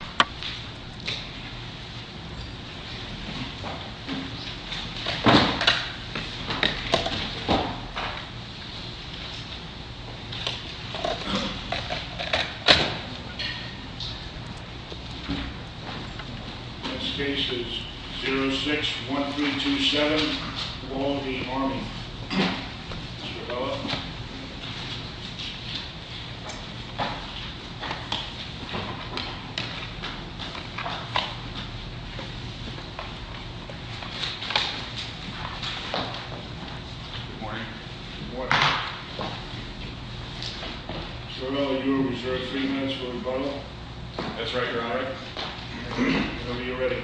This case is 06-1327, Wall v. Army. Mr. Bella. Good morning. Mr. Bella, you reserved three minutes for rebuttal. That's right, Your Honor. Whenever you're ready.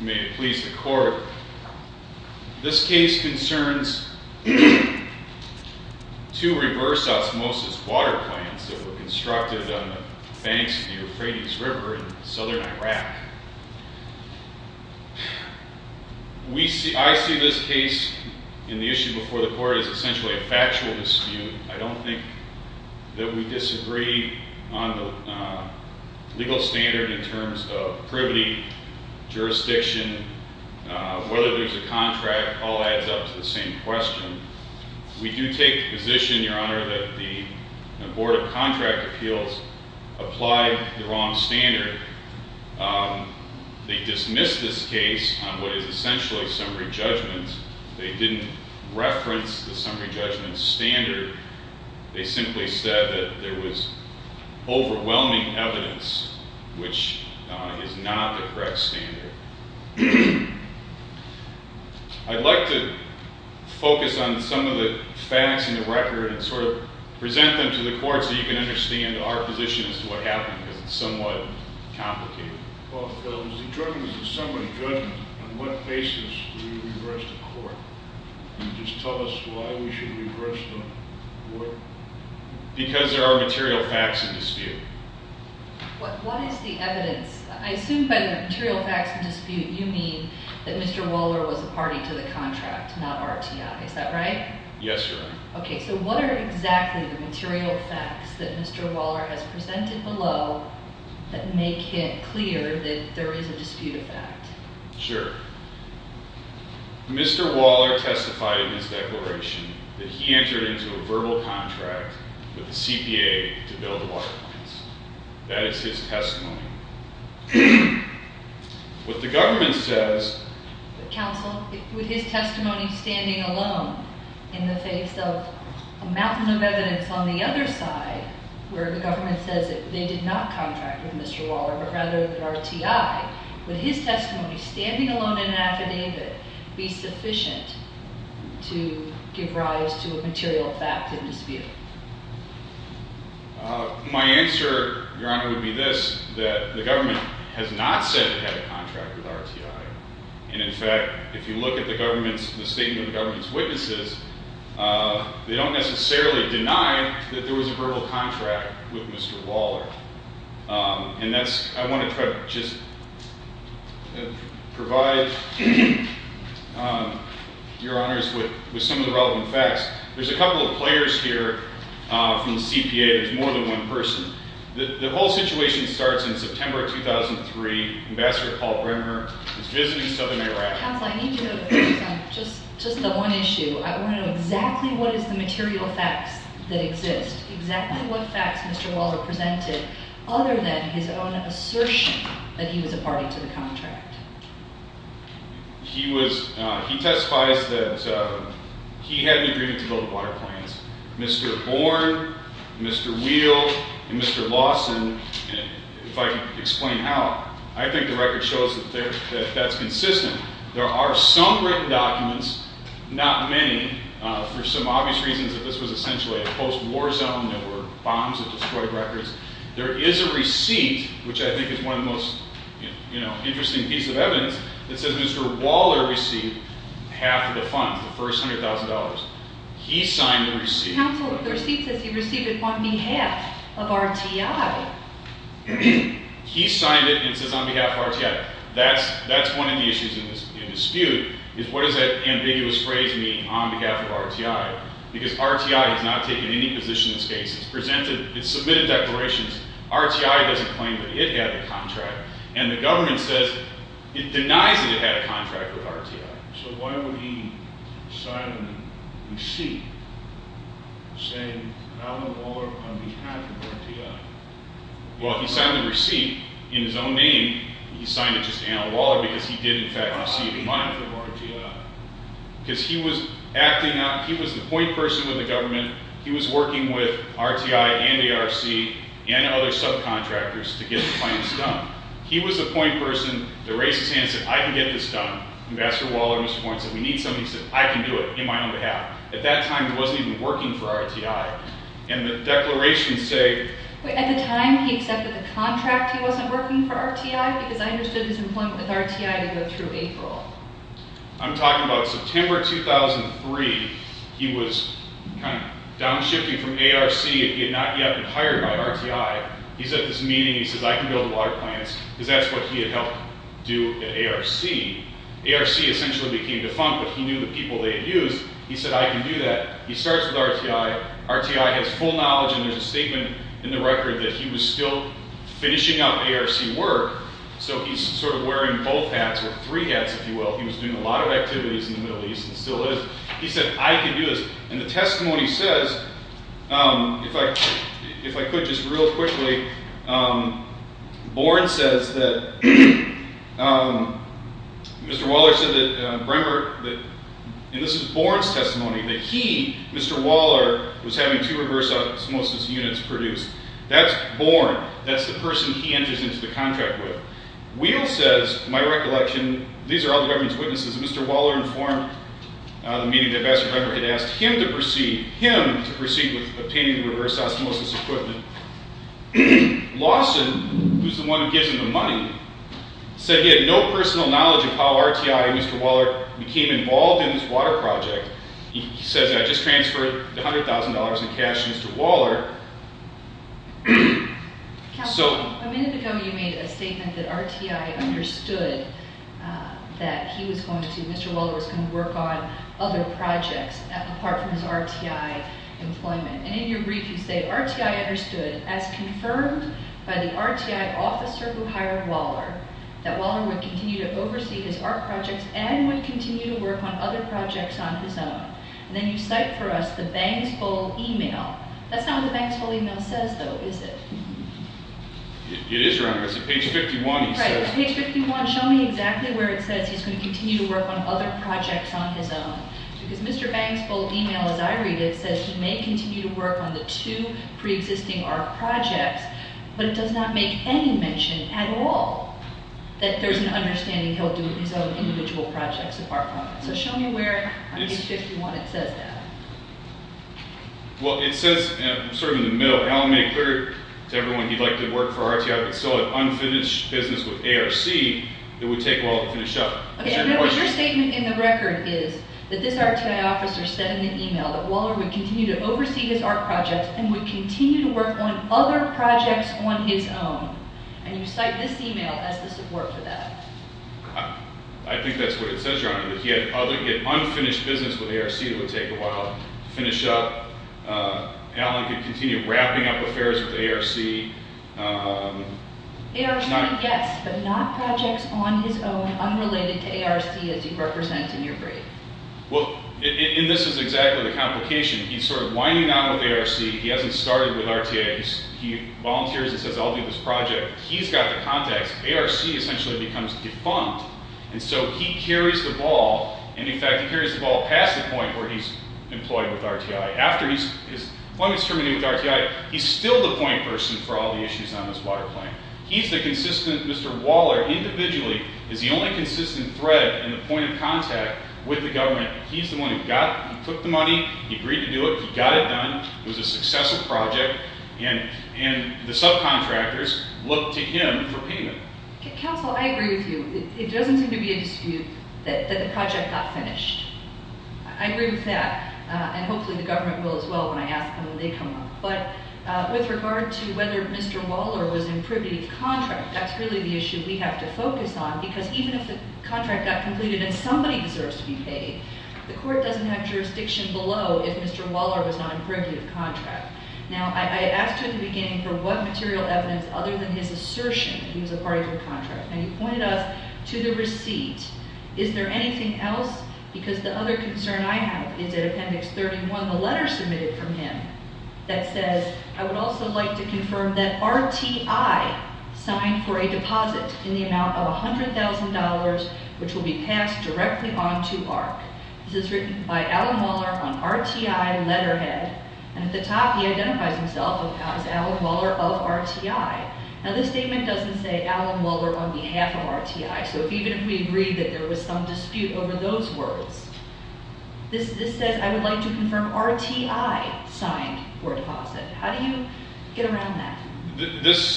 May it please the Court. This case concerns two reverse osmosis water plants that were constructed on the banks of the Euphrates River in southern Iraq. I see this case in the issue before the Court as essentially a factual dispute. I don't think that we disagree on the legal standard in terms of privity, jurisdiction, whether there's a contract. It all adds up to the same question. We do take the position, Your Honor, that the Board of Contract Appeals applied the wrong standard. They dismissed this case on what is essentially summary judgment. They didn't reference the summary judgment standard. They simply said that there was overwhelming evidence which is not the correct standard. I'd like to focus on some of the facts in the record and sort of present them to the Court so you can understand our position as to what happened, because it's somewhat complicated. Well, Phil, the judgement is a summary judgment. On what basis do we regress the Court? Can you just tell us why we should regress the Court? Because there are material facts in dispute. What is the evidence? I assume by the material facts in dispute you mean that Mr. Waller was a party to the contract, not RTI. Is that right? Yes, Your Honor. Okay, so what are exactly the material facts that Mr. Waller has presented below that make it clear that there is a dispute of fact? Sure. Mr. Waller testified in his declaration that he entered into a verbal contract with the CPA to build the water lines. That is his testimony. What the government says... Counsel, with his testimony standing alone in the face of a mountain of evidence on the other side where the government says that they did not contract with Mr. Waller but rather with RTI, would his testimony standing alone in an affidavit be sufficient to give rise to a material fact in dispute? My answer, Your Honor, would be this, that the government has not said it had a contract with RTI. And in fact, if you look at the statement of the government's witnesses, they don't necessarily deny that there was a verbal contract with Mr. Waller. And that's... I want to try to just provide, Your Honors, with some of the relevant facts. There's a couple of players here from the CPA. There's more than one person. The whole situation starts in September 2003. Ambassador Paul Brenner is visiting southern Iraq. Counsel, I need you to focus on just the one issue. I want to know exactly what is the material facts that exist, exactly what facts Mr. Waller presented, other than his own assertion that he was a party to the contract. He testifies that he had an agreement to build water plants. Mr. Born, Mr. Wheel, and Mr. Lawson, if I can explain how, I think the record shows that that's consistent. There are some written documents, not many, for some obvious reasons that this was essentially a post-war zone, there were bombs that destroyed records. There is a receipt, which I think is one of the most interesting pieces of evidence, that says Mr. Waller received half of the funds, the first $100,000. He signed the receipt. Counsel, the receipt says he received it on behalf of RTI. He signed it and it says on behalf of RTI. That's one of the issues in this dispute, is what does that ambiguous phrase mean, on behalf of RTI? Because RTI has not taken any position in this case. It submitted declarations. RTI doesn't claim that it had a contract. And the government says, it denies that it had a contract with RTI. So why would he sign the receipt saying Alan Waller on behalf of RTI? Well, he signed the receipt in his own name. He signed it just Alan Waller because he did in fact receive the money. Because he was acting out, he was the point person with the government. He was working with RTI and ARC and other subcontractors to get the finance done. He was the point person. The racist hand said, I can get this done. Ambassador Waller and Mr. Warren said, we need somebody who said, I can do it, in my own behalf. At that time, he wasn't even working for RTI. And the declarations say... At the time, he accepted the contract. He wasn't working for RTI. Because I understood his employment with RTI to go through April. I'm talking about September 2003. He was kind of downshifting from ARC and he had not yet been hired by RTI. He's at this meeting, he says, I can build water plants. Because that's what he had helped do at ARC. ARC essentially became defunct, but he knew the people they had used. He said, I can do that. He starts with RTI. RTI has full knowledge and there's a statement in the record that he was still finishing up ARC work. So he's sort of wearing both hats or three hats, if you will. He was doing a lot of activities in the Middle East and still is. He said, I can do this. And the testimony says, if I could just real quickly, Warren says that Mr. Waller said that Bremer... And this is Warren's testimony. That he, Mr. Waller, was having two reverse osmosis units produced. That's Warren. That's the person he enters into the contract with. Weill says, my recollection, these are all the government's witnesses. Mr. Waller informed the meeting that Ambassador Bremer had asked him to proceed with obtaining the reverse osmosis equipment. Lawson, who's the one who gives him the money, said he had no personal knowledge of how RTI and Mr. Waller became involved in this water project. He says, I just transferred $100,000 in cash to Mr. Waller. A minute ago you made a statement that RTI understood that Mr. Waller was going to work on other projects apart from his RTI employment. And in your brief you say, RTI understood, as confirmed by the RTI officer who hired Waller, that Waller would continue to oversee his art projects and would continue to work on other projects on his own. And then you cite for us the Banksville email. That's not what the Banksville email says, though, is it? It is, Your Honor. It's at page 51. Right, it's page 51. Show me exactly where it says he's going to continue to work on other projects on his own. Because Mr. Banksville's email, as I read it, says he may continue to work on the two pre-existing art projects, but it does not make any mention at all that there's an understanding he'll do his own individual projects apart from them. So show me where, on page 51, it says that. Well, it says, sort of in the middle, Allen made clear to everyone he'd like to work for RTI but still had unfinished business with ARC, it would take a while to finish up. Remember, your statement in the record is that this RTI officer said in the email that Waller would continue to oversee his art projects and would continue to work on other projects on his own. And you cite this email as the support for that. I think that's what it says, Your Honor, that he had unfinished business with ARC, it would take a while to finish up. Allen could continue wrapping up affairs with ARC. ARC, yes, but not projects on his own unrelated to ARC as you represent in your brief. Well, and this is exactly the complication. He's sort of winding down with ARC. He hasn't started with RTI. He volunteers and says, I'll do this project. He's got the contacts. ARC essentially becomes defunct. And so he carries the ball. And, in fact, he carries the ball past the point where he's employed with RTI. After he's terminated with RTI, he's still the point person for all the issues on this water plan. He's the consistent, Mr. Waller individually is the only consistent thread and the point of contact with the government. He's the one who took the money, he agreed to do it, he got it done. It was a successful project. And the subcontractors look to him for payment. Counsel, I agree with you. It doesn't seem to be a dispute that the project got finished. I agree with that. And hopefully the government will as well when I ask them when they come up. But with regard to whether Mr. Waller was in privative contract, that's really the issue we have to focus on because even if the contract got completed and somebody deserves to be paid, the court doesn't have jurisdiction below if Mr. Waller was not in privative contract. Now, I asked you at the beginning for what material evidence other than his assertion that he was a party to the contract, and you pointed us to the receipt. Is there anything else? Because the other concern I have is that Appendix 31, the letter submitted from him that says, I would also like to confirm that RTI signed for a deposit in the amount of $100,000 which will be passed directly on to AHRQ. This is written by Alan Waller on RTI letterhead. And at the top he identifies himself as Alan Waller of RTI. Now, this statement doesn't say Alan Waller on behalf of RTI. So even if we agree that there was some dispute over those words, this says, I would like to confirm RTI signed for a deposit. How do you get around that? This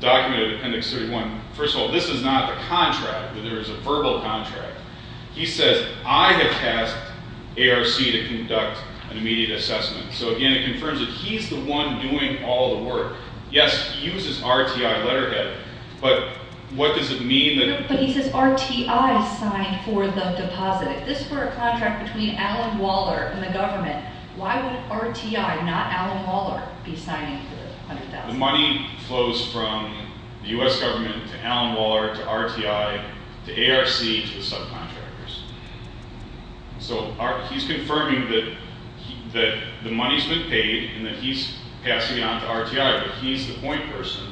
document of Appendix 31, first of all, this is not the contract. There is a verbal contract. He says, I have tasked ARC to conduct an immediate assessment. So, again, it confirms that he's the one doing all the work. Yes, he uses RTI letterhead, but what does it mean? But he says RTI signed for the deposit. If this were a contract between Alan Waller and the government, why would RTI, not Alan Waller, be signing for the $100,000? The money flows from the U.S. government to Alan Waller to RTI to ARC to the subcontractors. So he's confirming that the money's been paid and that he's passing it on to RTI, but he's the point person.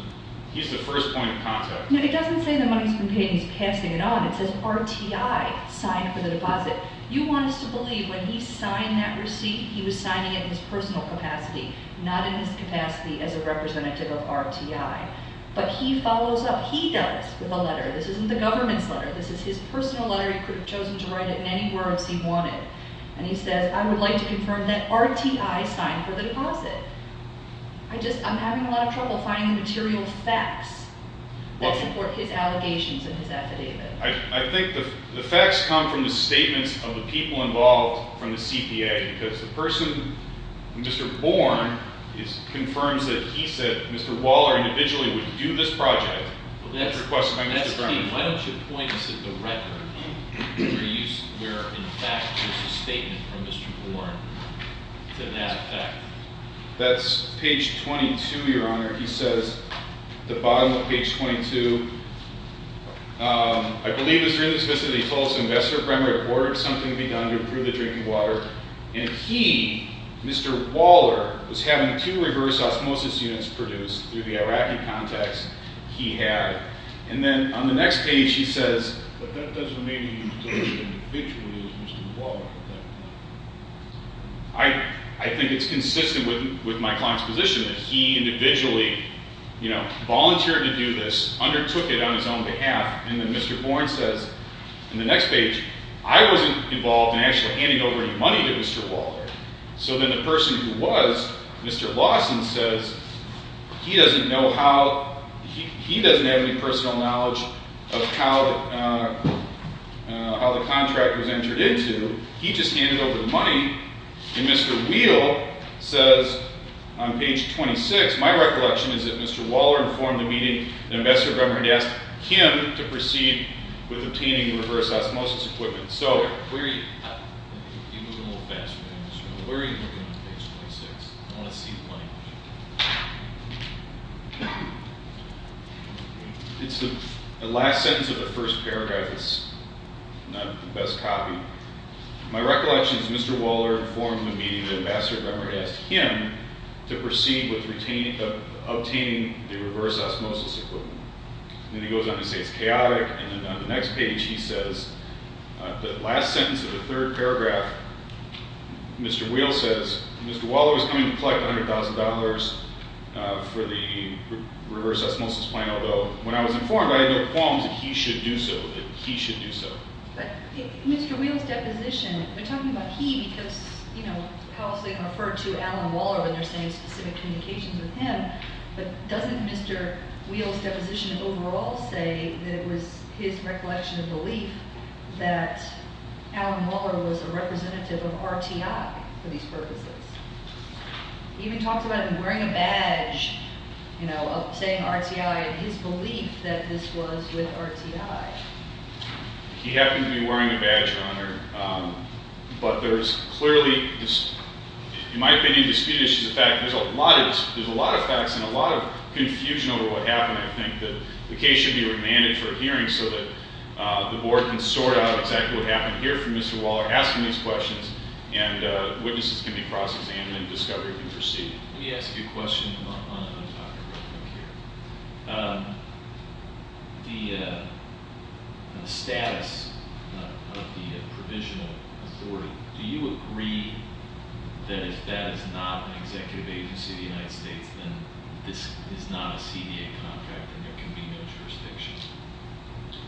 He's the first point of contact. No, it doesn't say the money's been paid and he's passing it on. It says RTI signed for the deposit. You want us to believe when he signed that receipt, he was signing it in his personal capacity, not in his capacity as a representative of RTI. But he follows up, he does, with a letter. This isn't the government's letter. This is his personal letter. He could have chosen to write it in any words he wanted. And he says, I would like to confirm that RTI signed for the deposit. I'm having a lot of trouble finding the material facts that support his allegations in his affidavit. I think the facts come from the statements of the people involved from the CPA because the person, Mr. Born, confirms that he said Mr. Waller individually would do this project. That's key. Why don't you point us at the record where, in fact, there's a statement from Mr. Born to that effect? That's page 22, Your Honor. He says at the bottom of page 22, I believe it's really specific. He told us, Investor Bremer had ordered something to be done to improve the drinking water, and if he, Mr. Waller, was having two reverse osmosis units produced through the Iraqi contacts, he had. And then on the next page, he says, But that doesn't mean he was doing it individually as Mr. Waller at that point. I think it's consistent with my client's position that he individually, you know, volunteered to do this, undertook it on his own behalf. And then Mr. Born says, In the next page, I wasn't involved in actually handing over any money to Mr. Waller. So then the person who was, Mr. Lawson, says, He doesn't know how, he doesn't have any personal knowledge of how the contract was entered into. He just handed over the money. And Mr. Wheel says, on page 26, My recollection is that Mr. Waller informed the meeting that Investor Bremer had asked him to proceed with obtaining reverse osmosis equipment. So, where are you? You move a little faster than I do. Where are you looking on page 26? I want to see the money. It's the last sentence of the first paragraph. It's not the best copy. My recollection is that Mr. Waller informed the meeting that Investor Bremer had asked him to proceed with obtaining the reverse osmosis equipment. And then he goes on to say it's chaotic. And then on the next page, he says, The last sentence of the third paragraph, Mr. Wheel says, Mr. Waller is coming to collect $100,000 for the reverse osmosis plan, although when I was informed, I had no qualms that he should do so, that he should do so. But Mr. Wheel's deposition, we're talking about he because, you know, how they refer to Alan Waller when they're saying specific communications with him. But doesn't Mr. Wheel's deposition overall say that it was his recollection of belief that Alan Waller was a representative of RTI for these purposes? He even talked about him wearing a badge, you know, saying RTI and his belief that this was with RTI. He happened to be wearing a badge, Your Honor. But there's clearly, in my opinion, disputed issues. In fact, there's a lot of facts and a lot of confusion over what happened. I think that the case should be remanded for a hearing so that the board can sort out exactly what happened here for Mr. Waller, asking these questions, and witnesses can be cross-examined and discovery can proceed. Let me ask you a question on the topic right here. The status of the provisional authority, do you agree that if that is not an executive agency of the United States, then this is not a CDA contract and there can be no jurisdiction?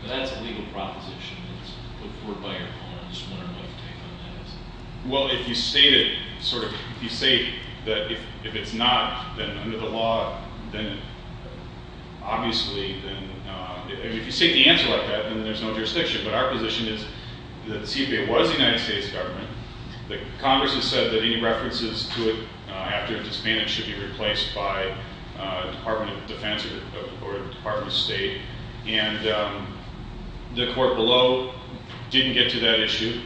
That's a legal proposition that's put forward by your opponent. I'm just wondering what your take on that is. Well, if you state it, sort of, if you say that if it's not, then under the law, then obviously, then if you state the answer like that, then there's no jurisdiction. But our position is that the CDA was the United States government. The Congress has said that any references to it after a disbanding should be replaced by the Department of Defense or the Department of State. And the court below didn't get to that issue.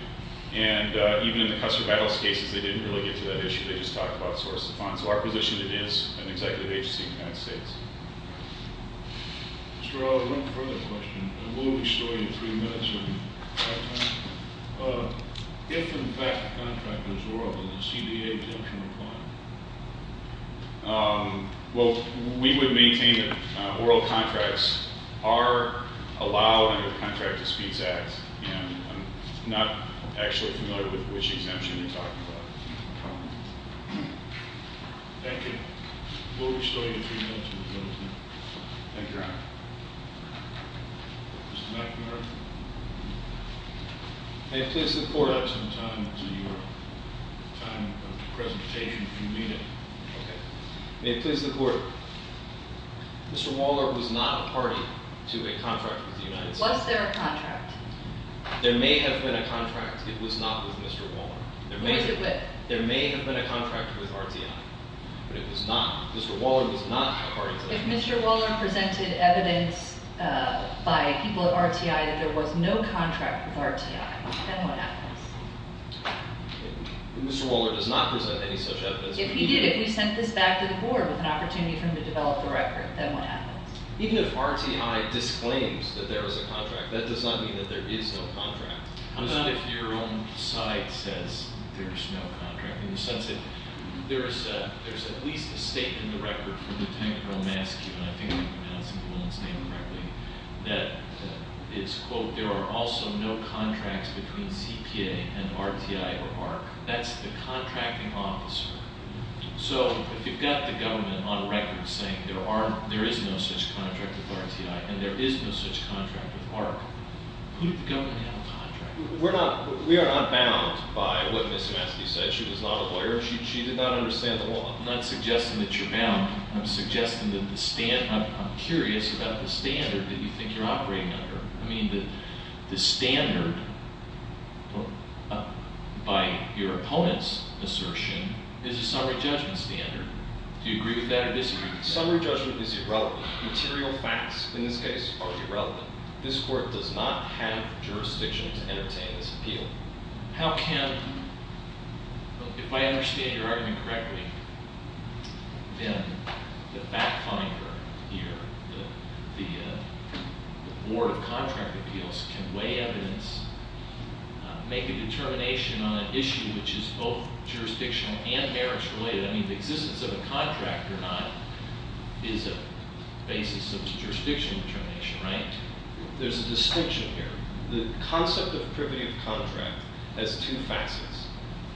And even in the Custer Battles cases, they didn't really get to that issue. They just talked about sources of funds. So our position is it is an executive agency of the United States. Mr. Waller, one further question. We'll restore you three minutes of your time. If, in fact, the contract was oral, will the CDA exemption apply? Well, we would maintain that oral contracts are allowed under the Contract to Speeds Act. And I'm not actually familiar with which exemption you're talking about. Thank you. We'll restore you three minutes of your time. Thank you, Your Honor. Mr. McNamara. May it please the court. I'll give you some time to your time of presentation, if you need it. Okay. May it please the court. Mr. Waller was not a party to a contract with the United States. Was there a contract? There may have been a contract. It was not with Mr. Waller. Who was it with? There may have been a contract with RTI. But it was not. Mr. Waller was not a party to that. If Mr. Waller presented evidence by people at RTI that there was no contract with RTI, then what happens? Mr. Waller does not present any such evidence. If he did, if we sent this back to the board with an opportunity for him to develop the record, then what happens? Even if RTI disclaims that there is a contract, that does not mean that there is no contract. What about if your own site says there's no contract? In the sense that there's at least a statement in the record from the technical mascue, and I think I'm pronouncing the woman's name correctly, that is, quote, there are also no contracts between CPA and RTI or ARC. That's the contracting officer. So if you've got the government on record saying there is no such contract with RTI and there is no such contract with ARC, who did the government have a contract with? We are not bound by what Ms. Maskey said. She was not a lawyer. She did not understand the law. I'm not suggesting that you're bound. I'm suggesting that the standard, I'm curious about the standard that you think you're operating under. I mean, the standard, by your opponent's assertion, is a summary judgment standard. Do you agree with that or disagree with that? Summary judgment is irrelevant. Material facts, in this case, are irrelevant. This Court does not have jurisdiction to entertain this appeal. How can, if I understand your argument correctly, then the fact finder here, the Board of Contract Appeals, can weigh evidence, make a determination on an issue which is both jurisdictional and marriage related. I mean, the existence of a contract or not is a basis of jurisdictional determination, right? There's a distinction here. The concept of privity of contract has two facets.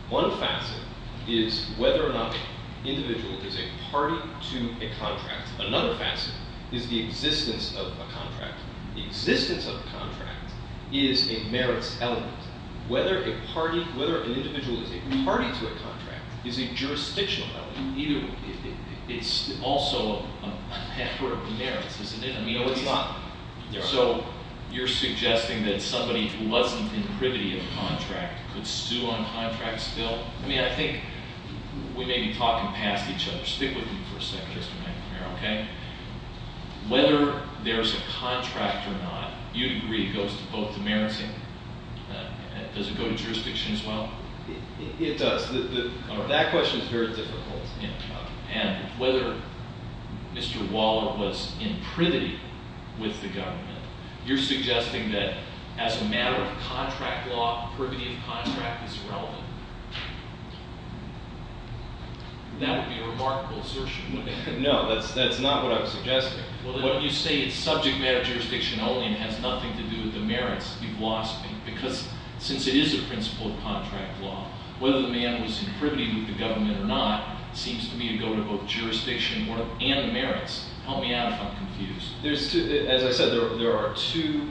One facet is whether or not the individual is a party to a contract. Another facet is the existence of a contract. The existence of a contract is a merits element. Whether a party, whether an individual is a party to a contract is a jurisdictional element. It's also a matter of merits, isn't it? No, it's not. So you're suggesting that somebody who wasn't in privity of contract could sue on contract's bill? I mean, I think we may be talking past each other. Stick with me for a second, Mr. McNamara, okay? Whether there's a contract or not, you'd agree, goes to both the merits. Does it go to jurisdiction as well? It does. That question is very difficult. And whether Mr. Waller was in privity with the government, you're suggesting that as a matter of contract law, privity of contract is irrelevant. That would be a remarkable assertion. No, that's not what I'm suggesting. Well, then you say it's subject matter jurisdiction only and has nothing to do with the merits. You've lost me. Because since it is a principle of contract law, whether the man was in privity with the government or not seems to me to go to both jurisdiction and the merits. Help me out if I'm confused. As I said, there are two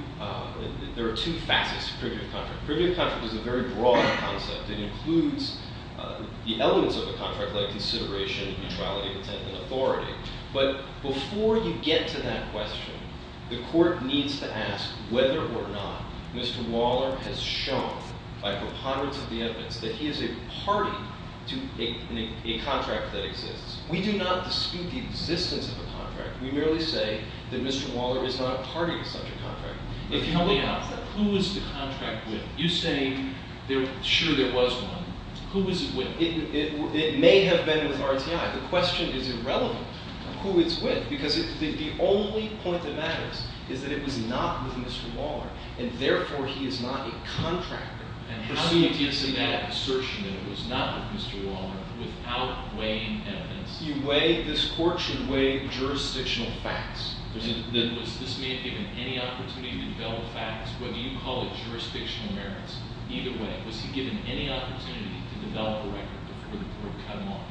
facets to privity of contract. Privity of contract is a very broad concept. It includes the elements of a contract like consideration, neutrality of intent, and authority. But before you get to that question, the court needs to ask whether or not Mr. Waller has shown, by preponderance of the evidence, that he is a party to a contract that exists. We do not dispute the existence of a contract. We merely say that Mr. Waller is not a party to such a contract. Help me out. Who is the contract with? You say, sure, there was one. Who was it with? It may have been with RTI. The question is irrelevant of who it's with because the only point that matters is that it was not with Mr. Waller, and therefore he is not a contractor. And how do you get to that assertion that it was not with Mr. Waller without weighing evidence? This court should weigh jurisdictional facts. Was this man given any opportunity to develop facts? Whether you call it jurisdictional merits, either way, was he given any opportunity to develop a record before the court cut him off?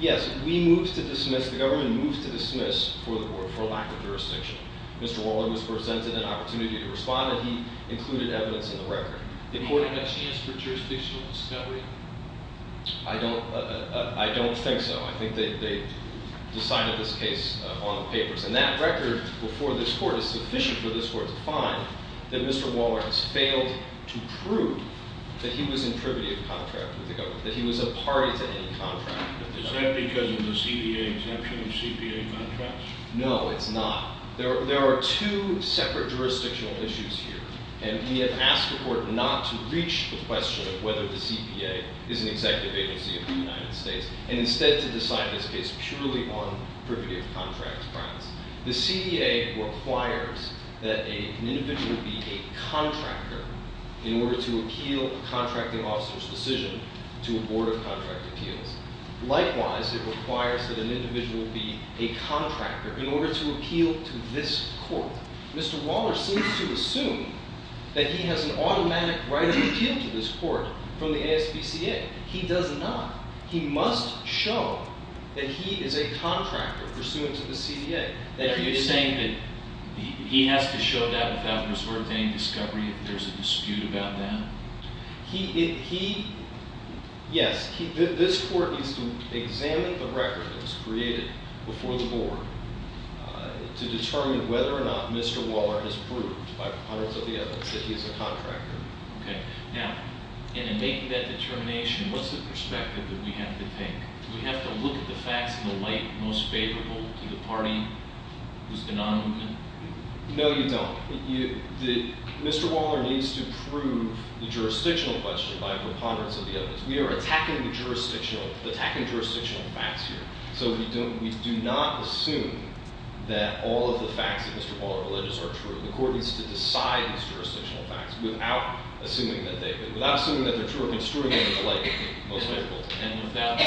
Yes. We moved to dismiss. The government moved to dismiss for lack of jurisdiction. Mr. Waller was presented an opportunity to respond, and he included evidence in the record. Did he have a chance for jurisdictional discovery? I don't think so. I think they decided this case on the papers. And that record before this court is sufficient for this court to find that Mr. Waller has failed to prove that he was in privity of contract with the government, that he was a party to any contract. Is that because of the CPA exemption of CPA contracts? No, it's not. There are two separate jurisdictional issues here, and we have asked the court not to reach the question of whether the CPA is an executive agency of the United States, and instead to decide this case purely on privity of contract grounds. The CPA requires that an individual be a contractor in order to appeal a contracting officer's decision to a board of contract appeals. Likewise, it requires that an individual be a contractor in order to appeal to this court. Mr. Waller seems to assume that he has an automatic right of appeal to this court from the ASPCA. He does not. He must show that he is a contractor pursuant to the CPA. Are you saying that he has to show that without resort to any discovery if there's a dispute about that? Yes. This court needs to examine the record that was created before the board to determine whether or not Mr. Waller has proved, by the pundits of the evidence, that he is a contractor. Okay. Now, in making that determination, what's the perspective that we have to take? Do we have to look at the facts in the light most favorable to the party who's been on movement? No, you don't. Mr. Waller needs to prove the jurisdictional question by the pundits of the evidence. We are attacking jurisdictional facts here, so we do not assume that all of the facts that Mr. Waller alleges are true. The court needs to decide these jurisdictional facts without assuming that they're true or construing them in the light most favorable to the party. And without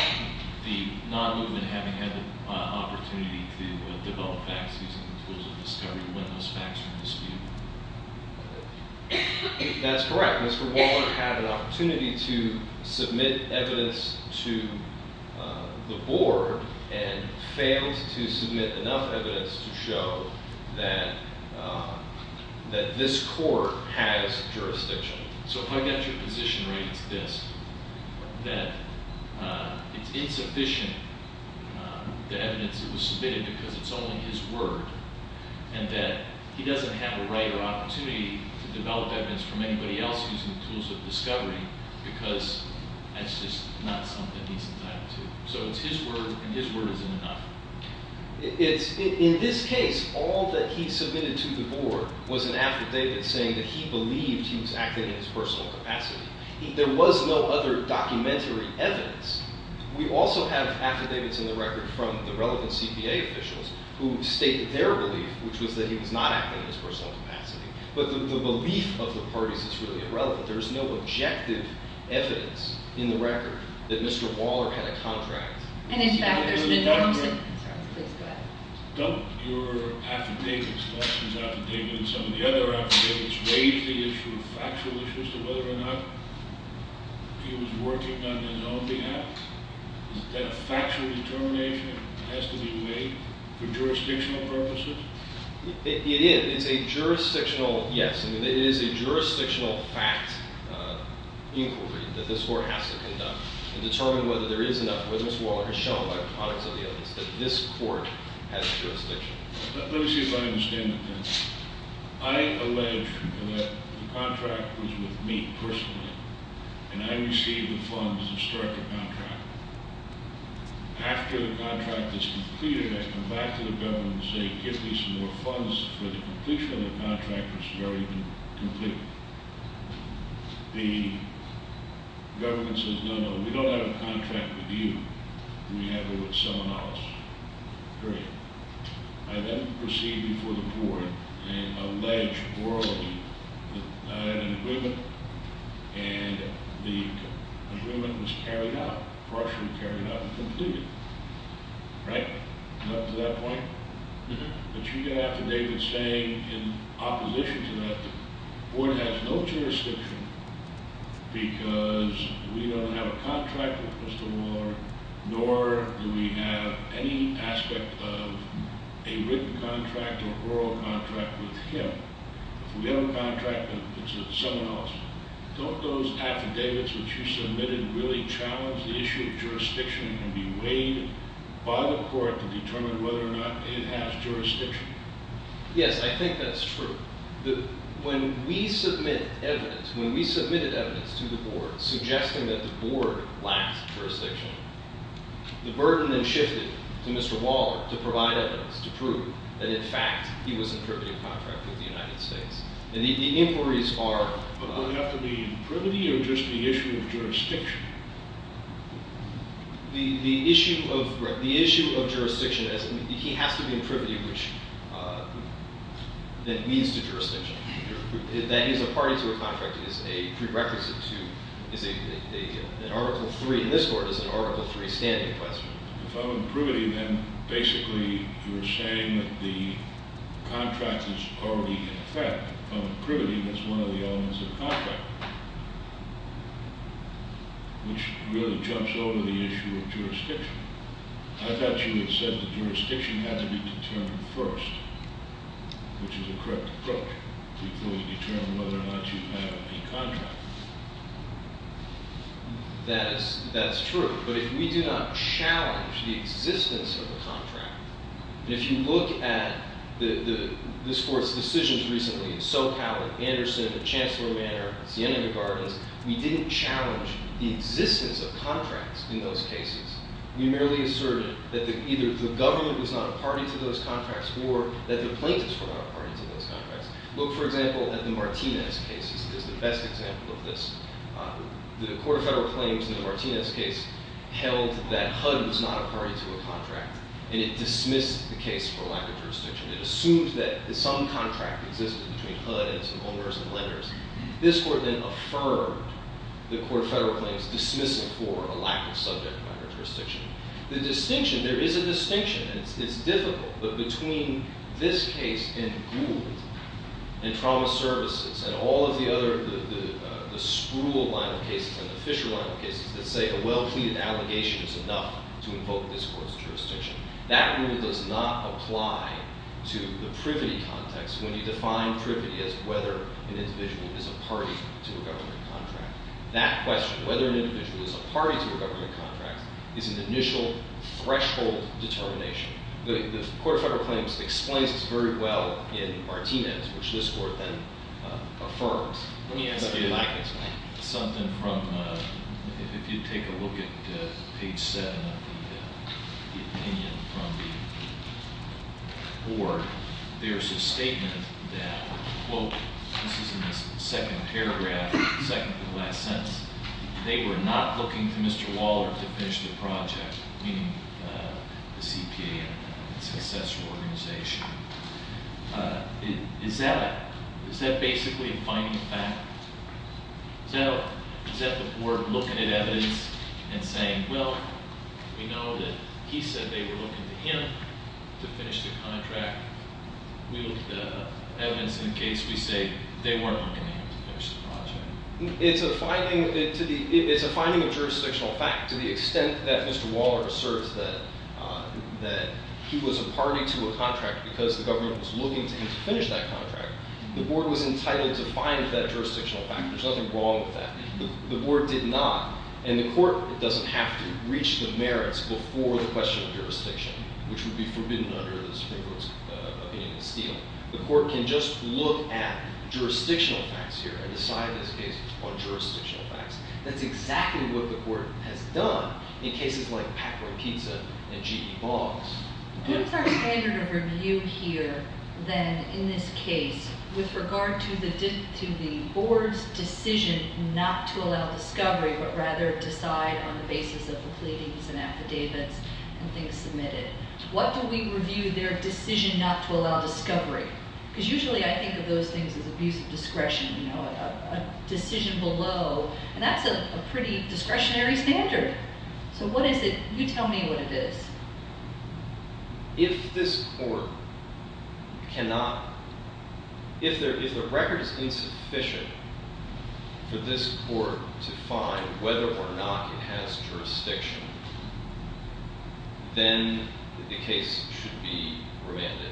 the non-movement having had the opportunity to develop facts using the tools of discovery to witness facts from the dispute? That's correct. Mr. Waller had an opportunity to submit evidence to the board and failed to submit enough evidence to show that this court has jurisdiction. So if I get your position right, it's this. That it's insufficient, the evidence that was submitted, because it's only his word. And that he doesn't have the right or opportunity to develop evidence from anybody else using the tools of discovery, because that's just not something he's entitled to. So it's his word, and his word isn't enough. In this case, all that he submitted to the board was an affidavit saying that he believed he was acting in his personal capacity. There was no other documentary evidence. We also have affidavits in the record from the relevant CPA officials who state their belief, which was that he was not acting in his personal capacity. But the belief of the parties is really irrelevant. There is no objective evidence in the record that Mr. Waller had a contract. And in fact, there's been no- Don't your affidavits, Lawson's affidavit and some of the other affidavits, raise the issue of factual issues to whether or not he was working on his own behalf? Is that a factual determination that has to be made for jurisdictional purposes? It is. It's a jurisdictional, yes. I mean, it is a jurisdictional fact inquiry that this court has to conduct and determine whether there is enough, whether Mr. Waller has shown by the products of the evidence that this court has jurisdiction. Let me see if I understand that then. I allege that the contract was with me personally, and I received the funds to start the contract. After the contract is completed, I come back to the government and say, give me some more funds for the completion of the contract, which has already been completed. The government says, no, no, we don't have a contract with you. We have it with someone else. Period. I then proceed before the court and allege orally that I had an agreement, and the agreement was carried out, partially carried out and completed. Right? Up to that point? Mm-hmm. But you get affidavits saying, in opposition to that, the board has no jurisdiction because we don't have a contract with Mr. Waller, nor do we have any aspect of a written contract or oral contract with him. We have a contract, but it's with someone else. Don't those affidavits that you submitted really challenge the issue of jurisdiction and be weighed by the court to determine whether or not it has jurisdiction? Yes, I think that's true. When we submitted evidence to the board suggesting that the board lacks jurisdiction, the burden then shifted to Mr. Waller to provide evidence to prove that, in fact, he was in privity of contract with the United States. And the inquiries are— But would it have to be in privity or just the issue of jurisdiction? The issue of—right. The issue of jurisdiction—he has to be in privity, which then leads to jurisdiction. That is, a party to a contract is a prerequisite to—is an Article III. In this court, it's an Article III standing question. If I'm in privity, then basically you're saying that the contract is already in effect. If I'm in privity, that's one of the elements of the contract. Which really jumps over the issue of jurisdiction. I thought you had said that jurisdiction had to be determined first, which is a correct approach, to fully determine whether or not you have a contract. That's true. But if we do not challenge the existence of a contract, and if you look at this court's decisions recently, in SoCal and Anderson and Chancellor Manor and Siena Gardens, we didn't challenge the existence of contracts in those cases. We merely asserted that either the government was not a party to those contracts or that the plaintiffs were not a party to those contracts. Look, for example, at the Martinez case. This is the best example of this. The Court of Federal Claims in the Martinez case held that HUD was not a party to a contract. And it dismissed the case for lack of jurisdiction. It assumed that some contract existed between HUD and some owners and lenders. This court then affirmed the Court of Federal Claims dismissing for a lack of subject matter jurisdiction. The distinction, there is a distinction, and it's difficult, but between this case and Gould and Trauma Services and all of the other, the Spruill line of cases and the Fisher line of cases that say a well-pleaded allegation is enough to invoke this court's jurisdiction. That rule does not apply to the privity context when you define privity as whether an individual is a party to a government contract. That question, whether an individual is a party to a government contract, is an initial threshold determination. The Court of Federal Claims explains this very well in Martinez, which this court then affirms. Let me ask you something. Something from, if you take a look at page 7 of the opinion from the board, there's a statement that, quote, this is in the second paragraph, second to the last sentence, they were not looking to Mr. Waller to finish the project, meaning the CPA and its successor organization. Is that basically a finding of fact? Is that the board looking at evidence and saying, well, we know that he said they were looking to him to finish the contract. We look at the evidence in the case, we say they were not looking to him to finish the project. It's a finding of jurisdictional fact to the extent that Mr. Waller asserts that he was a party to a contract because the government was looking to him to finish that contract. The board was entitled to find that jurisdictional fact. There's nothing wrong with that. The board did not, and the court doesn't have to reach the merits before the question of jurisdiction, which would be forbidden under the Supreme Court's opinion of stealing. The court can just look at jurisdictional facts here and decide this case on jurisdictional facts. That's exactly what the court has done in cases like Pac-Boy Pizza and G.E. Boggs. What is our standard of review here then in this case with regard to the board's decision not to allow discovery, but rather decide on the basis of the pleadings and affidavits and things submitted? What do we review their decision not to allow discovery? Because usually I think of those things as abuse of discretion, you know, a decision below. And that's a pretty discretionary standard. So what is it? You tell me what it is. If this court cannot—if the record is insufficient for this court to find whether or not it has jurisdiction, then the case should be remanded,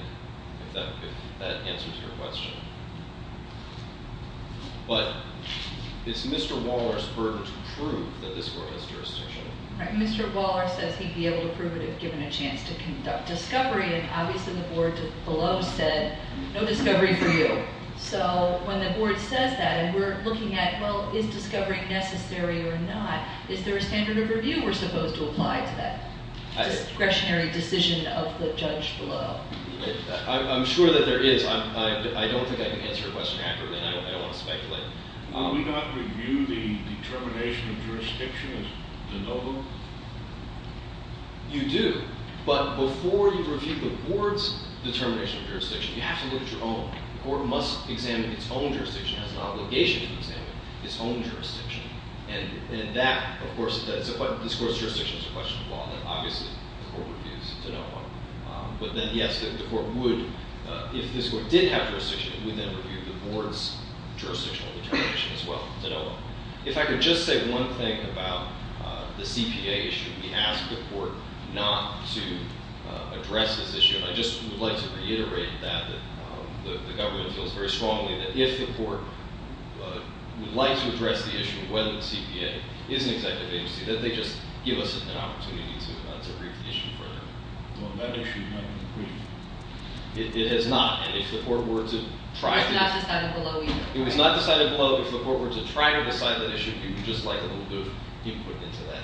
if that answers your question. But it's Mr. Waller's burden to prove that this court has jurisdiction. Mr. Waller says he'd be able to prove it if given a chance to conduct discovery, and obviously the board below said no discovery for you. So when the board says that and we're looking at, well, is discovery necessary or not, is there a standard of review we're supposed to apply to that discretionary decision of the judge below? I'm sure that there is. I don't think I can answer your question accurately, and I don't want to speculate. Will we not review the determination of jurisdiction as to no vote? You do. But before you review the board's determination of jurisdiction, you have to look at your own. The court must examine its own jurisdiction. It has an obligation to examine its own jurisdiction. And that, of course—this court's jurisdiction is a question of law, and obviously the court reviews to no vote. But then, yes, the court would—if this court did have jurisdiction, it would then review the board's jurisdictional determination as well to no vote. If I could just say one thing about the CPA issue. We asked the court not to address this issue, and I just would like to reiterate that. The government feels very strongly that if the court would like to address the issue, whether the CPA is an executive agency, that they just give us an opportunity to review the issue for now. Well, that issue has not been briefed. It has not. And if the court were to try to— It was not decided below either. It was not decided below. If the court were to try to decide that issue, we would just like a little bit of input into that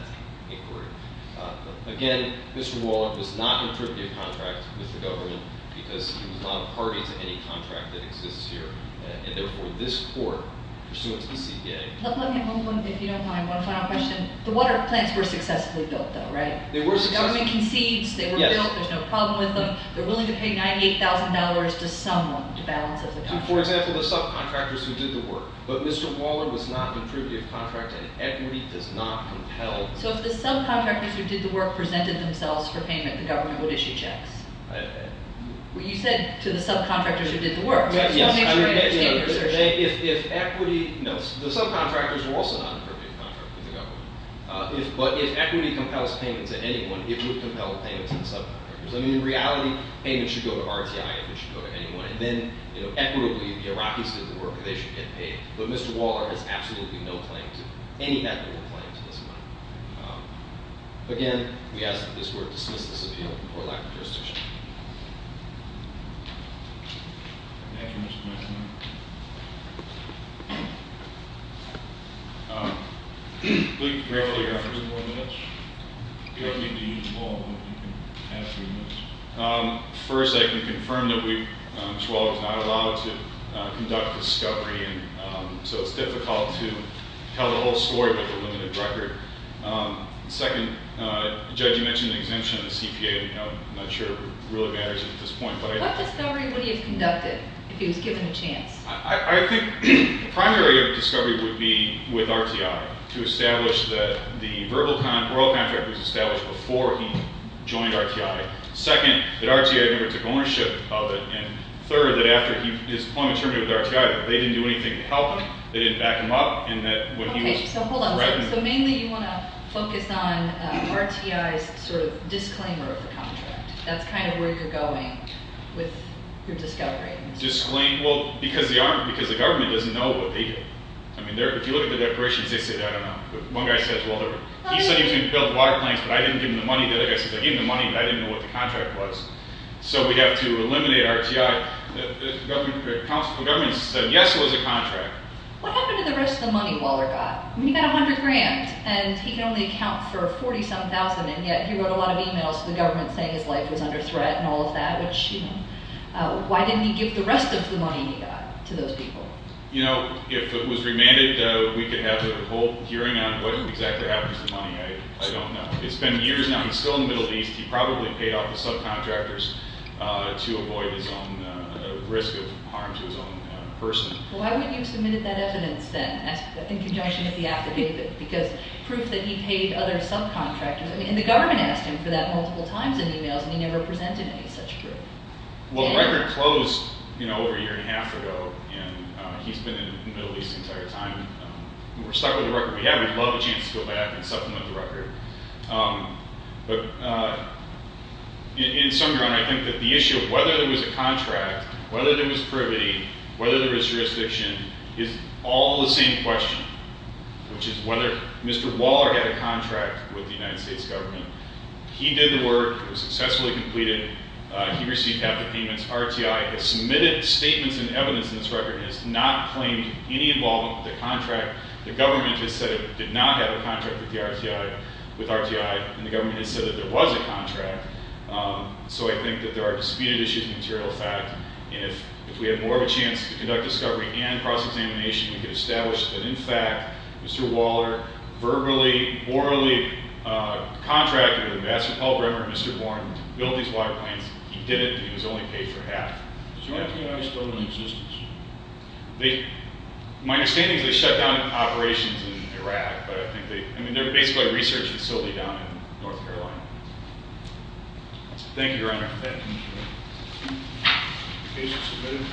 inquiry. Again, Mr. Waller does not contribute contracts with the government because he was not a party to any contract that exists here. And therefore, this court, pursuant to the CPA— Let me move on, if you don't mind, one final question. The water plants were successfully built, though, right? They were successfully built. The government concedes they were built. There's no problem with them. They're willing to pay $98,000 to someone to balance out the contract. For example, the subcontractors who did the work. But Mr. Waller was not a contributor to the contract, and equity does not compel— So if the subcontractors who did the work presented themselves for payment, the government would issue checks. Okay. You said to the subcontractors who did the work. I just want to make sure I understand your assertion. If equity—No. The subcontractors were also not a contributor to the contract with the government. But if equity compels payment to anyone, it would compel payment to the subcontractors. I mean, in reality, payment should go to RTI. It should go to anyone. And then, you know, equitably, the Iraqis did the work. They should get paid. But Mr. Waller has absolutely no claim to—any equitable claim to this money. Again, we ask that this Court dismiss this appeal for lack of jurisdiction. Thank you, Mr. Messonnier. Thank you. Can we briefly have three more minutes? First, I can confirm that Ms. Waller is not allowed to conduct discovery, and so it's difficult to tell the whole story with a limited record. Second, Judge, you mentioned the exemption of the CPA. I'm not sure it really matters at this point, but I— What discovery would he have conducted if he was given a chance? I think the primary discovery would be with RTI to establish that the verbal—oral contract was established before he joined RTI. Second, that RTI never took ownership of it. And third, that after his appointment terminated with RTI, that they didn't do anything to help him. They didn't back him up, and that what he was— Okay, so hold on. So mainly you want to focus on RTI's sort of disclaimer of the contract. That's kind of where you're going with your discovery. Disclaim—well, because the government doesn't know what they did. I mean, if you look at the declarations, they say—I don't know. One guy says, well, he said he was going to build water plants, but I didn't give him the money. The other guy says, I gave him the money, but I didn't know what the contract was. So we have to eliminate RTI. The government said, yes, it was a contract. What happened to the rest of the money Waller got? I mean, he got $100,000, and he can only account for $40,000-something, and yet he wrote a lot of e-mails to the government saying his life was under threat and all of that, which, you know, why didn't he give the rest of the money he got to those people? You know, if it was remanded, we could have the whole hearing on what exactly happens to the money. I don't know. It's been years now. He's still in the Middle East. He probably paid off the subcontractors to avoid his own risk of harm to his own person. Well, why wouldn't you have submitted that evidence then? Because proof that he paid other subcontractors, and the government asked him for that multiple times in e-mails, and he never presented any such proof. Well, the record closed, you know, over a year and a half ago, and he's been in the Middle East the entire time. We're stuck with the record we have. We'd love a chance to go back and supplement the record. But in some regard, I think that the issue of whether there was a contract, whether there was privity, whether there was jurisdiction is all the same question, which is whether Mr. Waller had a contract with the United States government. He did the work. It was successfully completed. He received half the payments. RTI has submitted statements and evidence in this record and has not claimed any involvement with the contract. The government has said it did not have a contract with RTI, and the government has said that there was a contract. So I think that there are disputed issues of material fact. And if we had more of a chance to conduct discovery and cross-examination, we could establish that, in fact, Mr. Waller verbally, orally contracted with Ambassador Paul Bremer and Mr. Warren to build these waterplanes. He did it, and he was only paid for half. Is RTI still in existence? My understanding is they shut down operations in Iraq, but I think they're basically a research facility down in North Carolina. Thank you, Your Honor. The case is submitted.